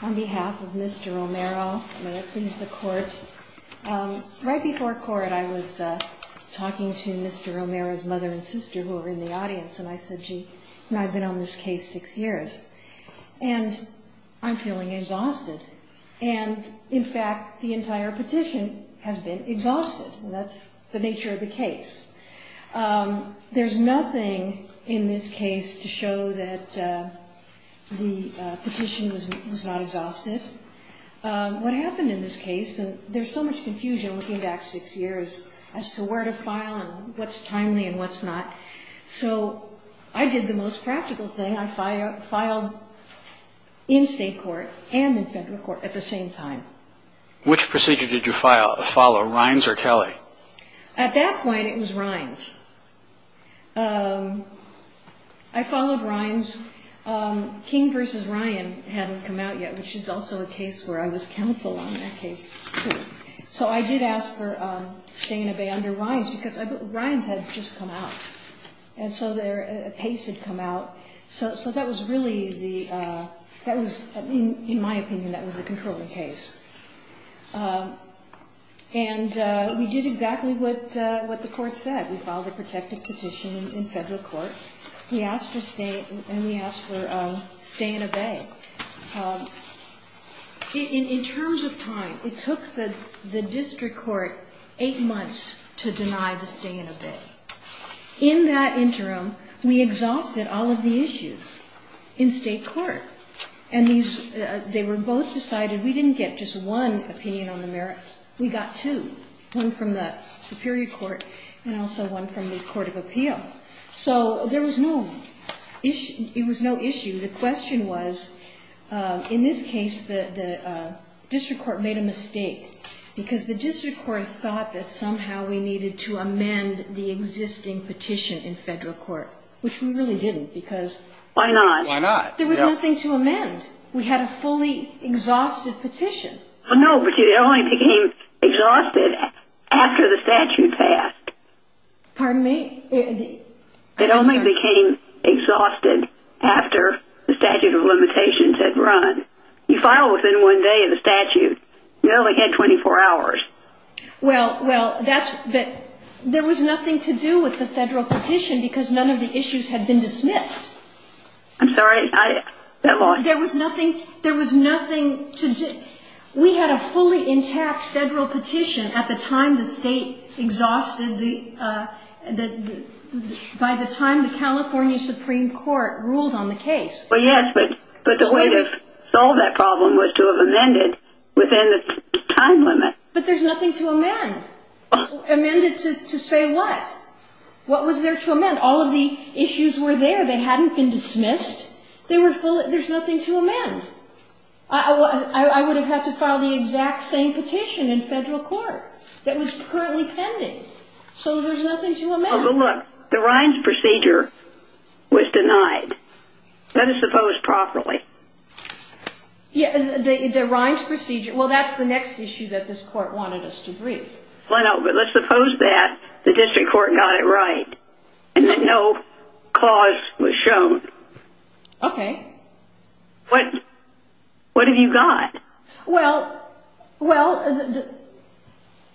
on behalf of Mr. Romero. I'm going to please the court. Right before court, I was talking to Mr. Romero's mother and sister, who were in the audience, and I said, gee, I've been on this case six years, and I'm feeling exhausted. And, in fact, the entire petition has been the petition was not exhausted. What happened in this case, and there's so much confusion looking back six years as to where to file and what's timely and what's not, so I did the most practical thing. I filed in state court and in federal court at the same time. Which procedure did you follow, Rines or Kelly? At that point, it was Rines. I followed Rines. King v. Ryan hadn't come out yet, which is also a case where I was counsel on that case. So I did ask for staying in a bay under Rines because Rines had just come out, and so a pace had come out. So that was really, in my opinion, that was a controlling case. And we did exactly what the court said. We filed a protective petition in federal court, and we asked for stay in a bay. In terms of time, it took the district court eight months to deny the stay in a bay. In that interim, we were both decided we didn't get just one opinion on the merits. We got two, one from the Superior Court and also one from the Court of Appeal. So there was no issue. The question was, in this case, the district court made a mistake because the district court thought that somehow we needed to amend the existing petition in federal court, which we really didn't because why not? There was nothing to amend. We had a fully exhausted petition. No, but it only became exhausted after the statute passed. Pardon me? It only became exhausted after the statute of limitations had run. You filed within one day of the statute. You only had 24 hours. Well, there was nothing to do with the federal petition because none of the issues had been dismissed. I'm sorry. There was nothing to do. We had a fully intact federal petition at the time the state exhausted the, by the time the California Supreme Court ruled on the case. Well, yes, but the way to solve that problem was to have amended within the time limit. But there's nothing to amend. Amended to say what? What was there to amend? All of the issues were there. They hadn't been dismissed. They were full. There's nothing to amend. I would have had to file the exact same petition in federal court that was currently pending. So there's nothing to amend. Oh, but look, the Rines procedure was denied. Let us suppose properly. Yeah, the Rines procedure. Well, that's the next issue that this court wanted us to brief. Well, no, but let's suppose that the district court got it right and that no clause was shown. Okay. What, what have you got? Well, well,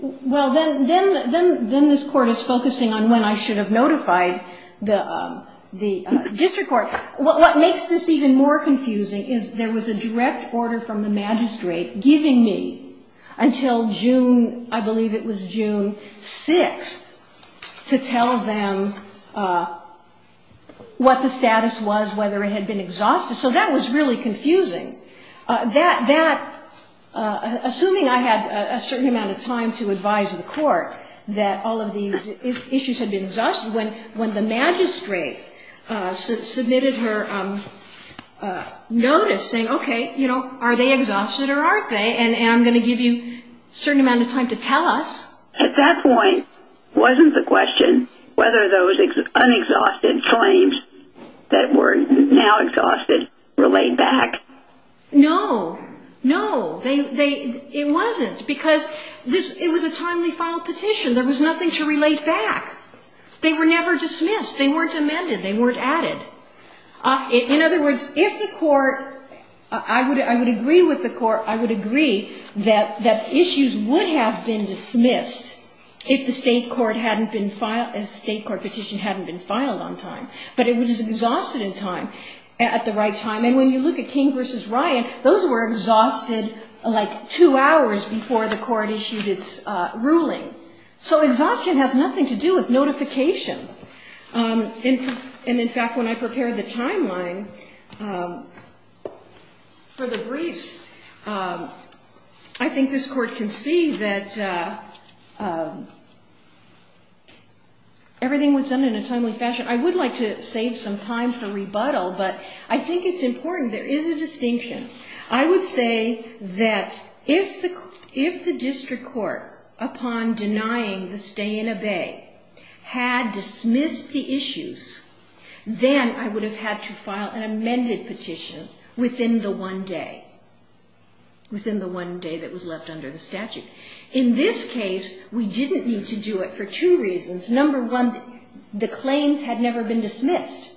well, then, then, then, then this court is focusing on when I should have notified the, the district court. What makes this even more confusing is there was a direct order from the magistrate giving me until June, I believe it was June 6th, to tell them what the status was, whether it had been exhausted. So that was really confusing. That, that, assuming I had a certain amount of time to advise the court that all of these issues had been exhausted, when, when the magistrate submitted her notice saying, okay, you know, are they exhausted or aren't they? And, and I'm going to give you a certain amount of time to tell us. At that point wasn't the question whether those unexhausted claims that were now exhausted were laid back. No, no, they, they, it wasn't because this, it was a timely filed petition. There was nothing to relate back. They were never dismissed. They weren't amended. They weren't added. In other words, if the court, I would, I would agree with the court, I would agree that, that issues would have been dismissed if the state court hadn't been filed, if the state court petition hadn't been filed on time. But it was exhausted in time, at the right time. And when you look at King v. Ryan, those were exhausted like two hours before the court issued its ruling. So exhaustion has nothing to do with notification. And, and in fact, when I prepared the timeline for the briefs, I think this court can see that everything was done in a timely fashion. I would like to save some time for rebuttal, but I think it's important. There is a distinction. I would say that if the, if the district court, upon denying the stay and obey, had dismissed the issues, then I would have had to file an amended petition within the one day, within the one day that was left under the statute. In this case, we didn't need to do it for two reasons. Number one, the claims had never been dismissed.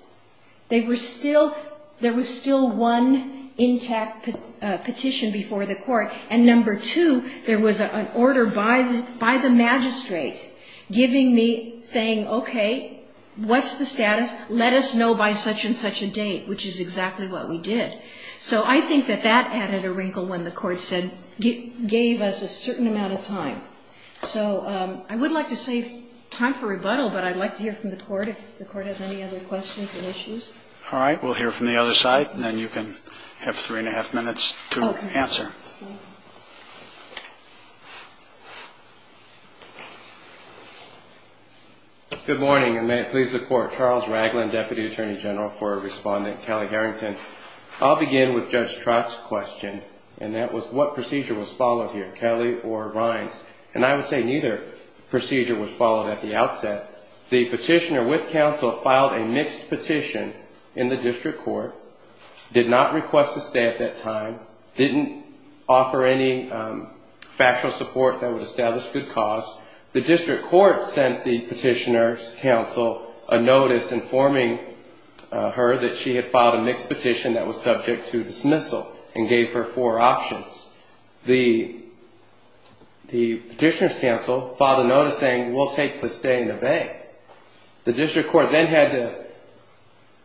They were still, there was still one intact petition before the court. And number two, there was an order by the, by the magistrate giving me, saying, okay, what's the status? Let us know by such and such a date, which is exactly what we did. So I think that that added a wrinkle when the court said, gave us a certain amount of time. So I would like to save time for rebuttal, but I'd like to hear from the court, if the court has any other questions or issues. All right, we'll hear from the other side, and then you can have three and a half minutes to answer. Good morning, and may it please the court. Charles Ragland, Deputy Attorney General for Respondent, Kelly Harrington. I'll begin with Judge Trott's question, and that was what procedure was followed here, Kelly or Rines? And I would say neither procedure was followed at the outset. The petitioner with counsel filed a mixed petition in the district court, did not request a stay at that time, didn't offer any factual support that would establish good cause. The district court sent the petitioner's counsel a notice informing her that she had filed a mixed petition that was subject to dismissal and gave her four options. The petitioner's counsel filed a notice saying, we'll take the stay in the bay. The district court then had to,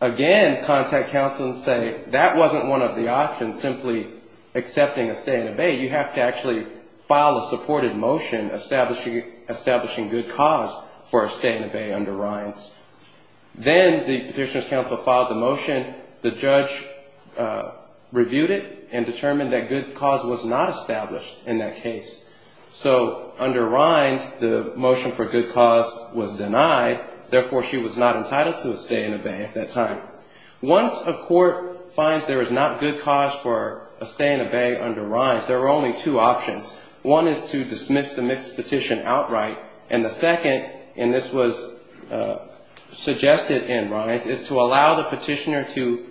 again, contact counsel and say, that wasn't one of the options, simply accepting a stay in the bay. You have to actually file a supported motion establishing good cause for a stay in the bay under Rines. Then the petitioner's counsel submitted it and determined that good cause was not established in that case. So under Rines, the motion for good cause was denied, therefore she was not entitled to a stay in the bay at that time. Once a court finds there is not good cause for a stay in the bay under Rines, there are only two options. One is to dismiss the mixed petition outright, and the second, and this was suggested in Rines, is to allow the petitioner to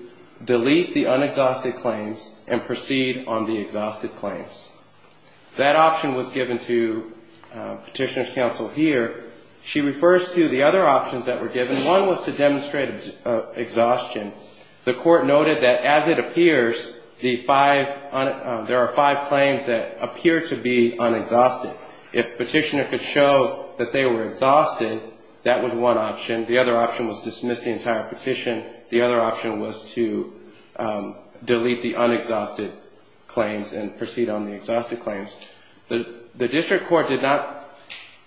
delete the unexhausted claims and proceed on the exhausted claims. That option was given to petitioner's counsel here. She refers to the other options that were given. One was to demonstrate exhaustion. The court noted that as it appears, there are five claims that appear to be unexhausted. If the petitioner could show that they were exhausted, that was one option. The other option was to dismiss the entire petition. The other option was to delete the unexhausted claims and proceed on the exhausted claims. The district court did not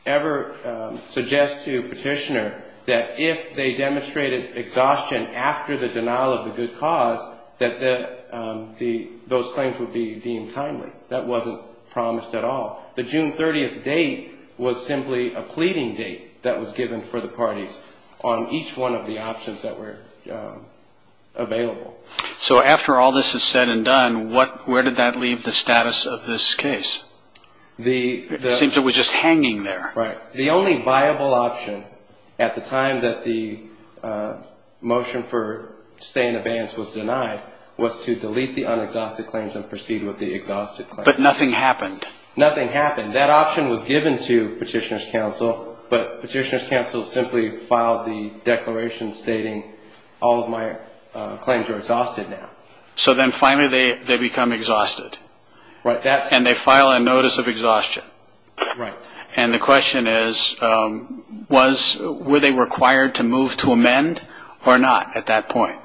ever suggest to the petitioner that if they demonstrated exhaustion after the denial of the good cause, that those claims would be deemed timely. That wasn't promised at all. The June 30th date was simply a pleading date that was given for the parties on each one of the options that were available. So after all this is said and done, where did that leave the status of this case? It seems it was just hanging there. Right. The only viable option at the time that the motion for stay in abeyance was denied was to delete the unexhausted claims and proceed with the exhausted claims. But nothing happened. Nothing happened. That option was given to petitioner's counsel, but petitioner's counsel simply filed the declaration stating, all of my claims are exhausted now. So then finally they become exhausted. Right. And they file a notice of exhaustion. Right. And the question is, were they required to move to amend or not at that point?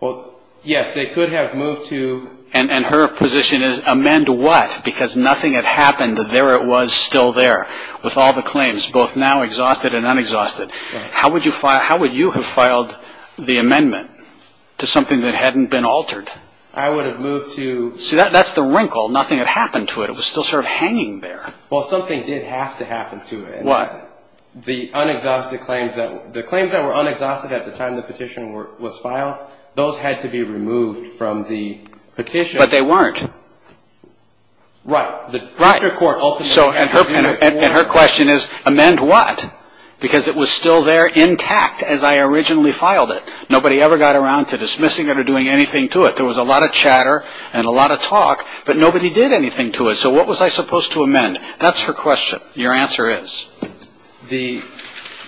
Well, yes. They could have moved to... And her position is, amend what? Because nothing had happened. There it was still there with all the claims, both now exhausted and unexhausted. How would you have filed the amendment to something that hadn't been altered? I would have moved to... See, that's the wrinkle. Nothing had happened to it. It was still sort of hanging there. Well, something did have to happen to it. The unexhausted claims that... the claims that were unexhausted at the time the petition was filed, those had to be removed from the petition. Right. The Proctor Court ultimately had to move forward... And her question is, amend what? Because it was still there intact as I originally filed it. Nobody ever got around to dismissing it or doing anything to it. There was a lot of chatter and a lot of talk, but nobody did anything to it. So what was I supposed to amend? That's her question. Your answer is? The...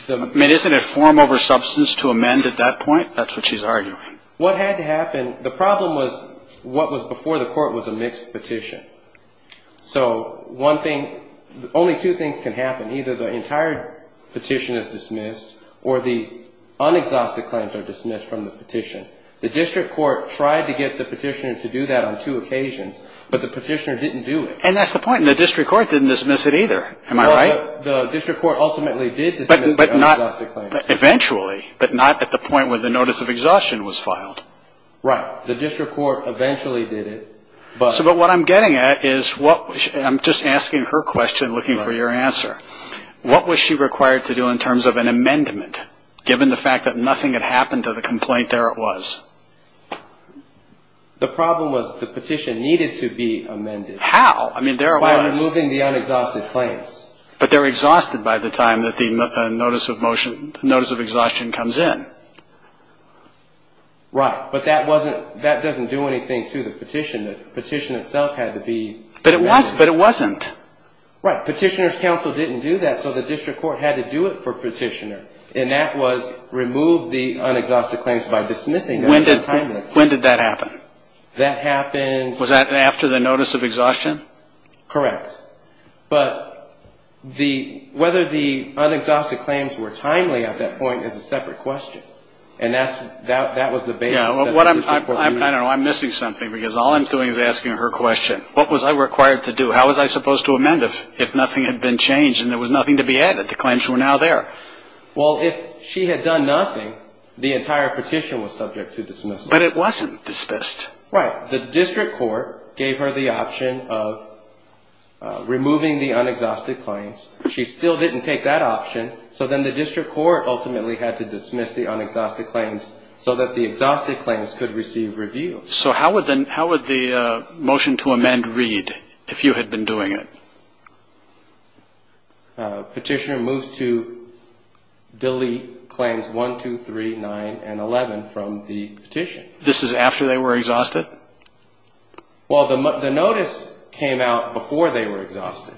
I mean, isn't it form over substance to amend at that point? That's what she's arguing. What had to happen... the problem was, what was before the court was a mixed petition. So, one thing... only two things can happen. Either the entire petition is dismissed, or the unexhausted claims are dismissed from the petition. The district court tried to get the petitioner to do that on two occasions, but the petitioner didn't do it. And that's the point. The district court didn't dismiss it either. Am I right? Well, the district court ultimately did dismiss the unexhausted claims. But not... eventually. But not at the point where the notice of exhaustion was filed. Right. The district court eventually did it, but... But what I'm getting at is what... I'm just asking her question, looking for your answer. What was she required to do in terms of an amendment, given the fact that nothing had happened to the complaint there it was? The problem was, the petition needed to be amended. How? I mean, there it was. By removing the unexhausted claims. But they're exhausted by the time that the notice of motion... notice of exhaustion comes in. Right. But that wasn't... that doesn't do anything to the petition. The petition itself had to be... But it was. But it wasn't. Right. Petitioner's counsel didn't do that, so the district court had to do it for petitioner. And that was remove the unexhausted claims by dismissing them. When did that happen? That happened... Was that after the notice of exhaustion? Correct. But the... whether the unexhausted claims were timely at that point is a separate question. And that's... that was the basis... Yeah, what I'm... I don't know, I'm missing something because all I'm doing is asking her question. What was I required to do? How was I supposed to amend if nothing had been changed and there was nothing to be added? The claims were now there. Well, if she had done nothing, the entire petition was subject to dismissal. But it wasn't dismissed. Right. The district court gave her the option of removing the unexhausted claims. She still didn't take that option, so then the district court ultimately had to dismiss the unexhausted claims so that the exhausted claims could receive review. So how would the motion to amend read if you had been doing it? Petitioner moved to delete claims 1, 2, 3, 9, and 11 from the petition. This is after they were exhausted? Well, the notice came out before they were exhausted.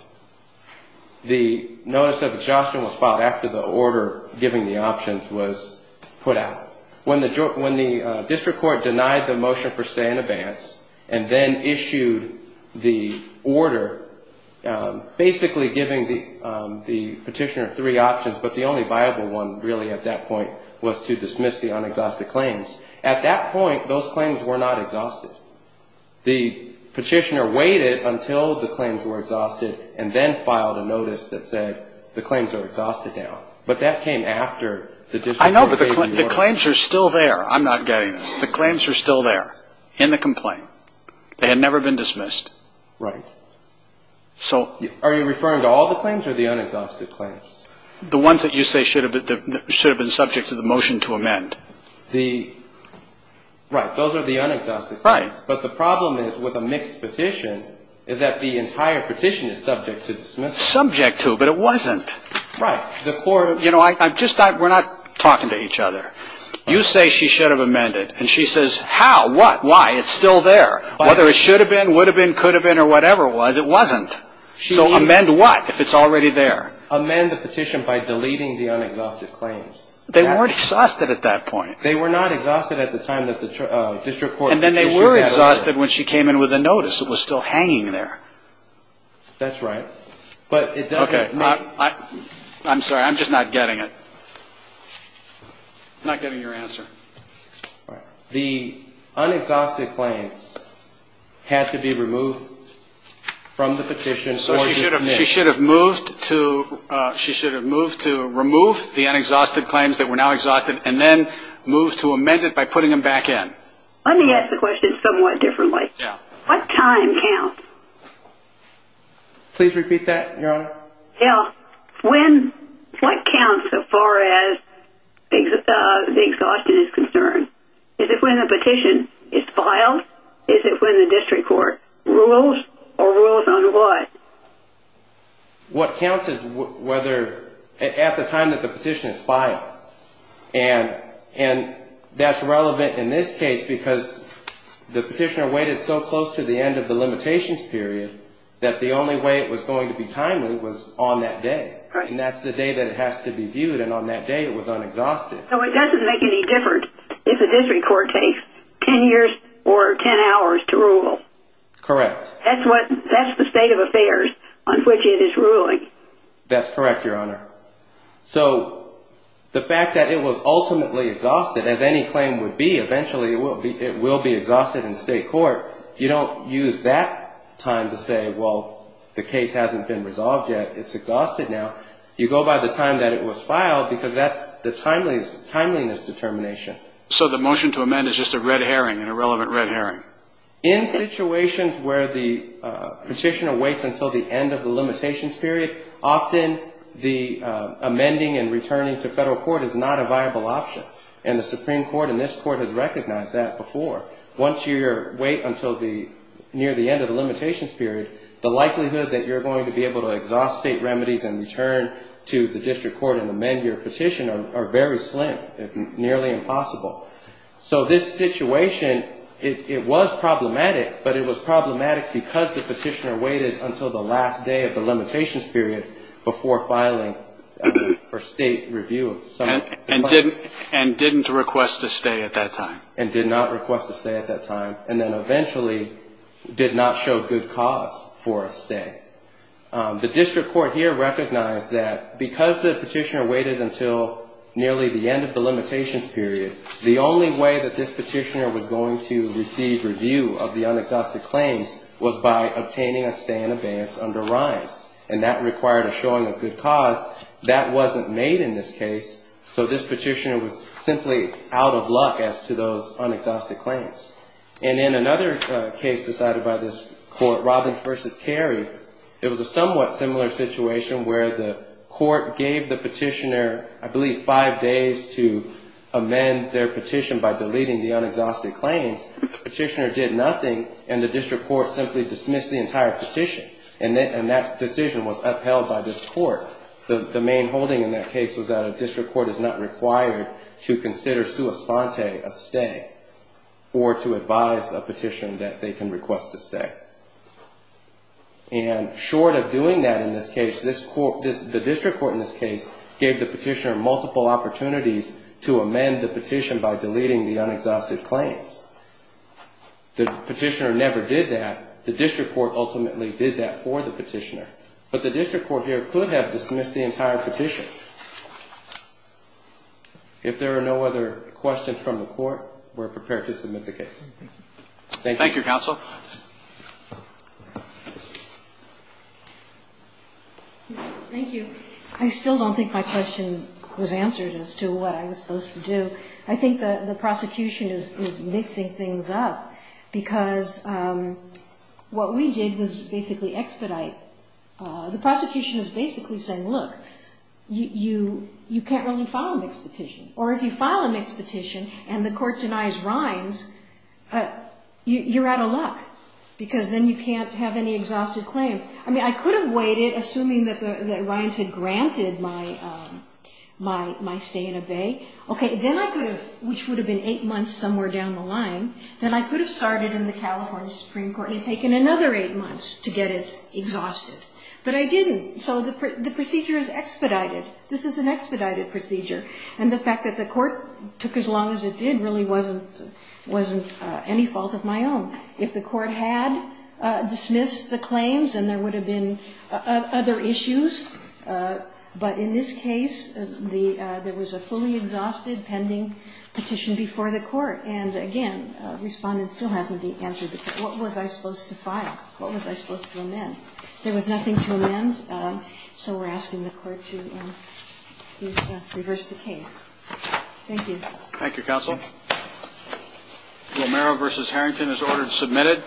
The notice of exhaustion was filed after the order giving the options was put out. When the... when the district court denied the motion for stay in advance and then issued the order basically giving the petitioner three options, but the only viable one really at that point was to dismiss the unexhausted claims, at that point those claims were not exhausted. The petitioner waited until the claims were exhausted and then filed a notice that said the claims are exhausted now. But that came after the district court gave the order. I know, but the claims are still there. I'm not getting this. The claims are still there in the complaint. They had never been dismissed. Right. So... Are you referring to all the claims or the unexhausted claims? The ones that you say should have been subject to the motion to amend. The... right, those are the unexhausted claims. Right. But the problem is with a mixed petition is that the entire petition is subject to dismissal. Subject to, but it wasn't. Right. The court... You know, I'm just not... we're not talking to each other. You say she should have amended and she says how, what, why? It's still there. Whether it should have been, would have been, could have been or whatever it was, it wasn't. So amend what if it's already there? Amend the petition by deleting the unexhausted claims. They weren't exhausted at that point. They were not exhausted at the time that the district court... And then they were exhausted when she came in with a notice that was still hanging there. That's right. But it doesn't... Okay. I'm sorry. I'm just not getting it. Not getting your answer. The unexhausted claims had to be removed from the petition or dismissed. She should have moved to remove the unexhausted claims that were now exhausted and then move to amend it by putting them back in. Let me ask the question somewhat differently. Yeah. What time counts? Please repeat that, Your Honor. Yeah. When... what counts so far as the exhaustion is concerned? Is it when the petition is filed? Is it when the district court rules or rules on what? What counts is whether... at the time that the petition is filed. And that's relevant in this case because the petitioner waited so close to the end of the limitations period that the only way it was going to be timely was on that day. Right. And that's the day that it has to be viewed and on that day it was unexhausted. So it doesn't make any difference if a district court takes 10 years or 10 hours to rule. Correct. That's what... that's the state of affairs on which it is ruling. That's correct, Your Honor. So the fact that it was ultimately exhausted, as any claim would be, eventually it will be exhausted in state court, you don't use that time to say, well, the case hasn't been resolved yet, it's exhausted now. You go by the time that it was filed because that's the timeliness determination. So the motion to amend is just a red herring, an irrelevant red herring? In situations where the petitioner waits until the end of the limitations period, often the amending and returning to federal court is not a viable option. And the Supreme Court and this Court has recognized that before. Once you wait until the... near the end of the limitations period, the likelihood that you're going to be able to exhaust state remedies and return to the district court and amend your petition are very slim, nearly impossible. So this situation, it was problematic, but it was problematic because the petitioner waited until the last day of the limitations period before filing for state review. And didn't request a stay at that time. And did not request a stay at that time. And then eventually did not show good cause for a stay. The district court here recognized that because the petitioner waited until nearly the end of the limitations period, the only way that this petitioner was going to receive review of the unexhausted claims was by obtaining a stay in abeyance under RINES. And that required a showing of good cause. That wasn't made in this case, so this petitioner was simply out of luck as to those unexhausted claims. And in another case decided by this court, Robbins v. Carey, it was a somewhat similar situation where the court gave the petitioner, I believe, five days to amend their petition by deleting the unexhausted claims. The petitioner did nothing, and the district court simply dismissed the entire petition. And that decision was upheld by this court. The main holding in that case was that a district court is not required to consider a sua sponte, a stay, or to advise a petitioner that they can request a stay. And short of doing that in this case, the district court in this case gave the petitioner multiple opportunities to amend the petition by deleting the unexhausted claims. The petitioner never did that. The district court ultimately did that for the petitioner. But the district court here could have dismissed the entire petition. If there are no other questions from the court, we're prepared to submit the case. Thank you. Thank you, counsel. Thank you. I still don't think my question was answered as to what I was supposed to do. I think the prosecution is mixing things up because what we did was basically expedite. The prosecution is basically saying, look, you can't really file a mixed petition. Or if you file a mixed petition and the court denies Rines, you're out of luck. Because then you can't have any exhausted claims. I mean, I could have waited, assuming that Rines had granted my stay and obey. Okay, then I could have, which would have been eight months somewhere down the line, then I could have started in the California Supreme Court and taken another eight months to get it exhausted. But I didn't. So the procedure is expedited. This is an expedited procedure. And the fact that the court took as long as it did really wasn't any fault of my own. If the court had dismissed the claims, then there would have been other issues. But in this case, there was a fully exhausted pending petition before the court. And again, the respondent still hasn't answered the question. What was I supposed to file? What was I supposed to amend? There was nothing to amend, so we're asking the court to reverse the case. Thank you. Thank you, Counsel. Romero v. Harrington is ordered submitted.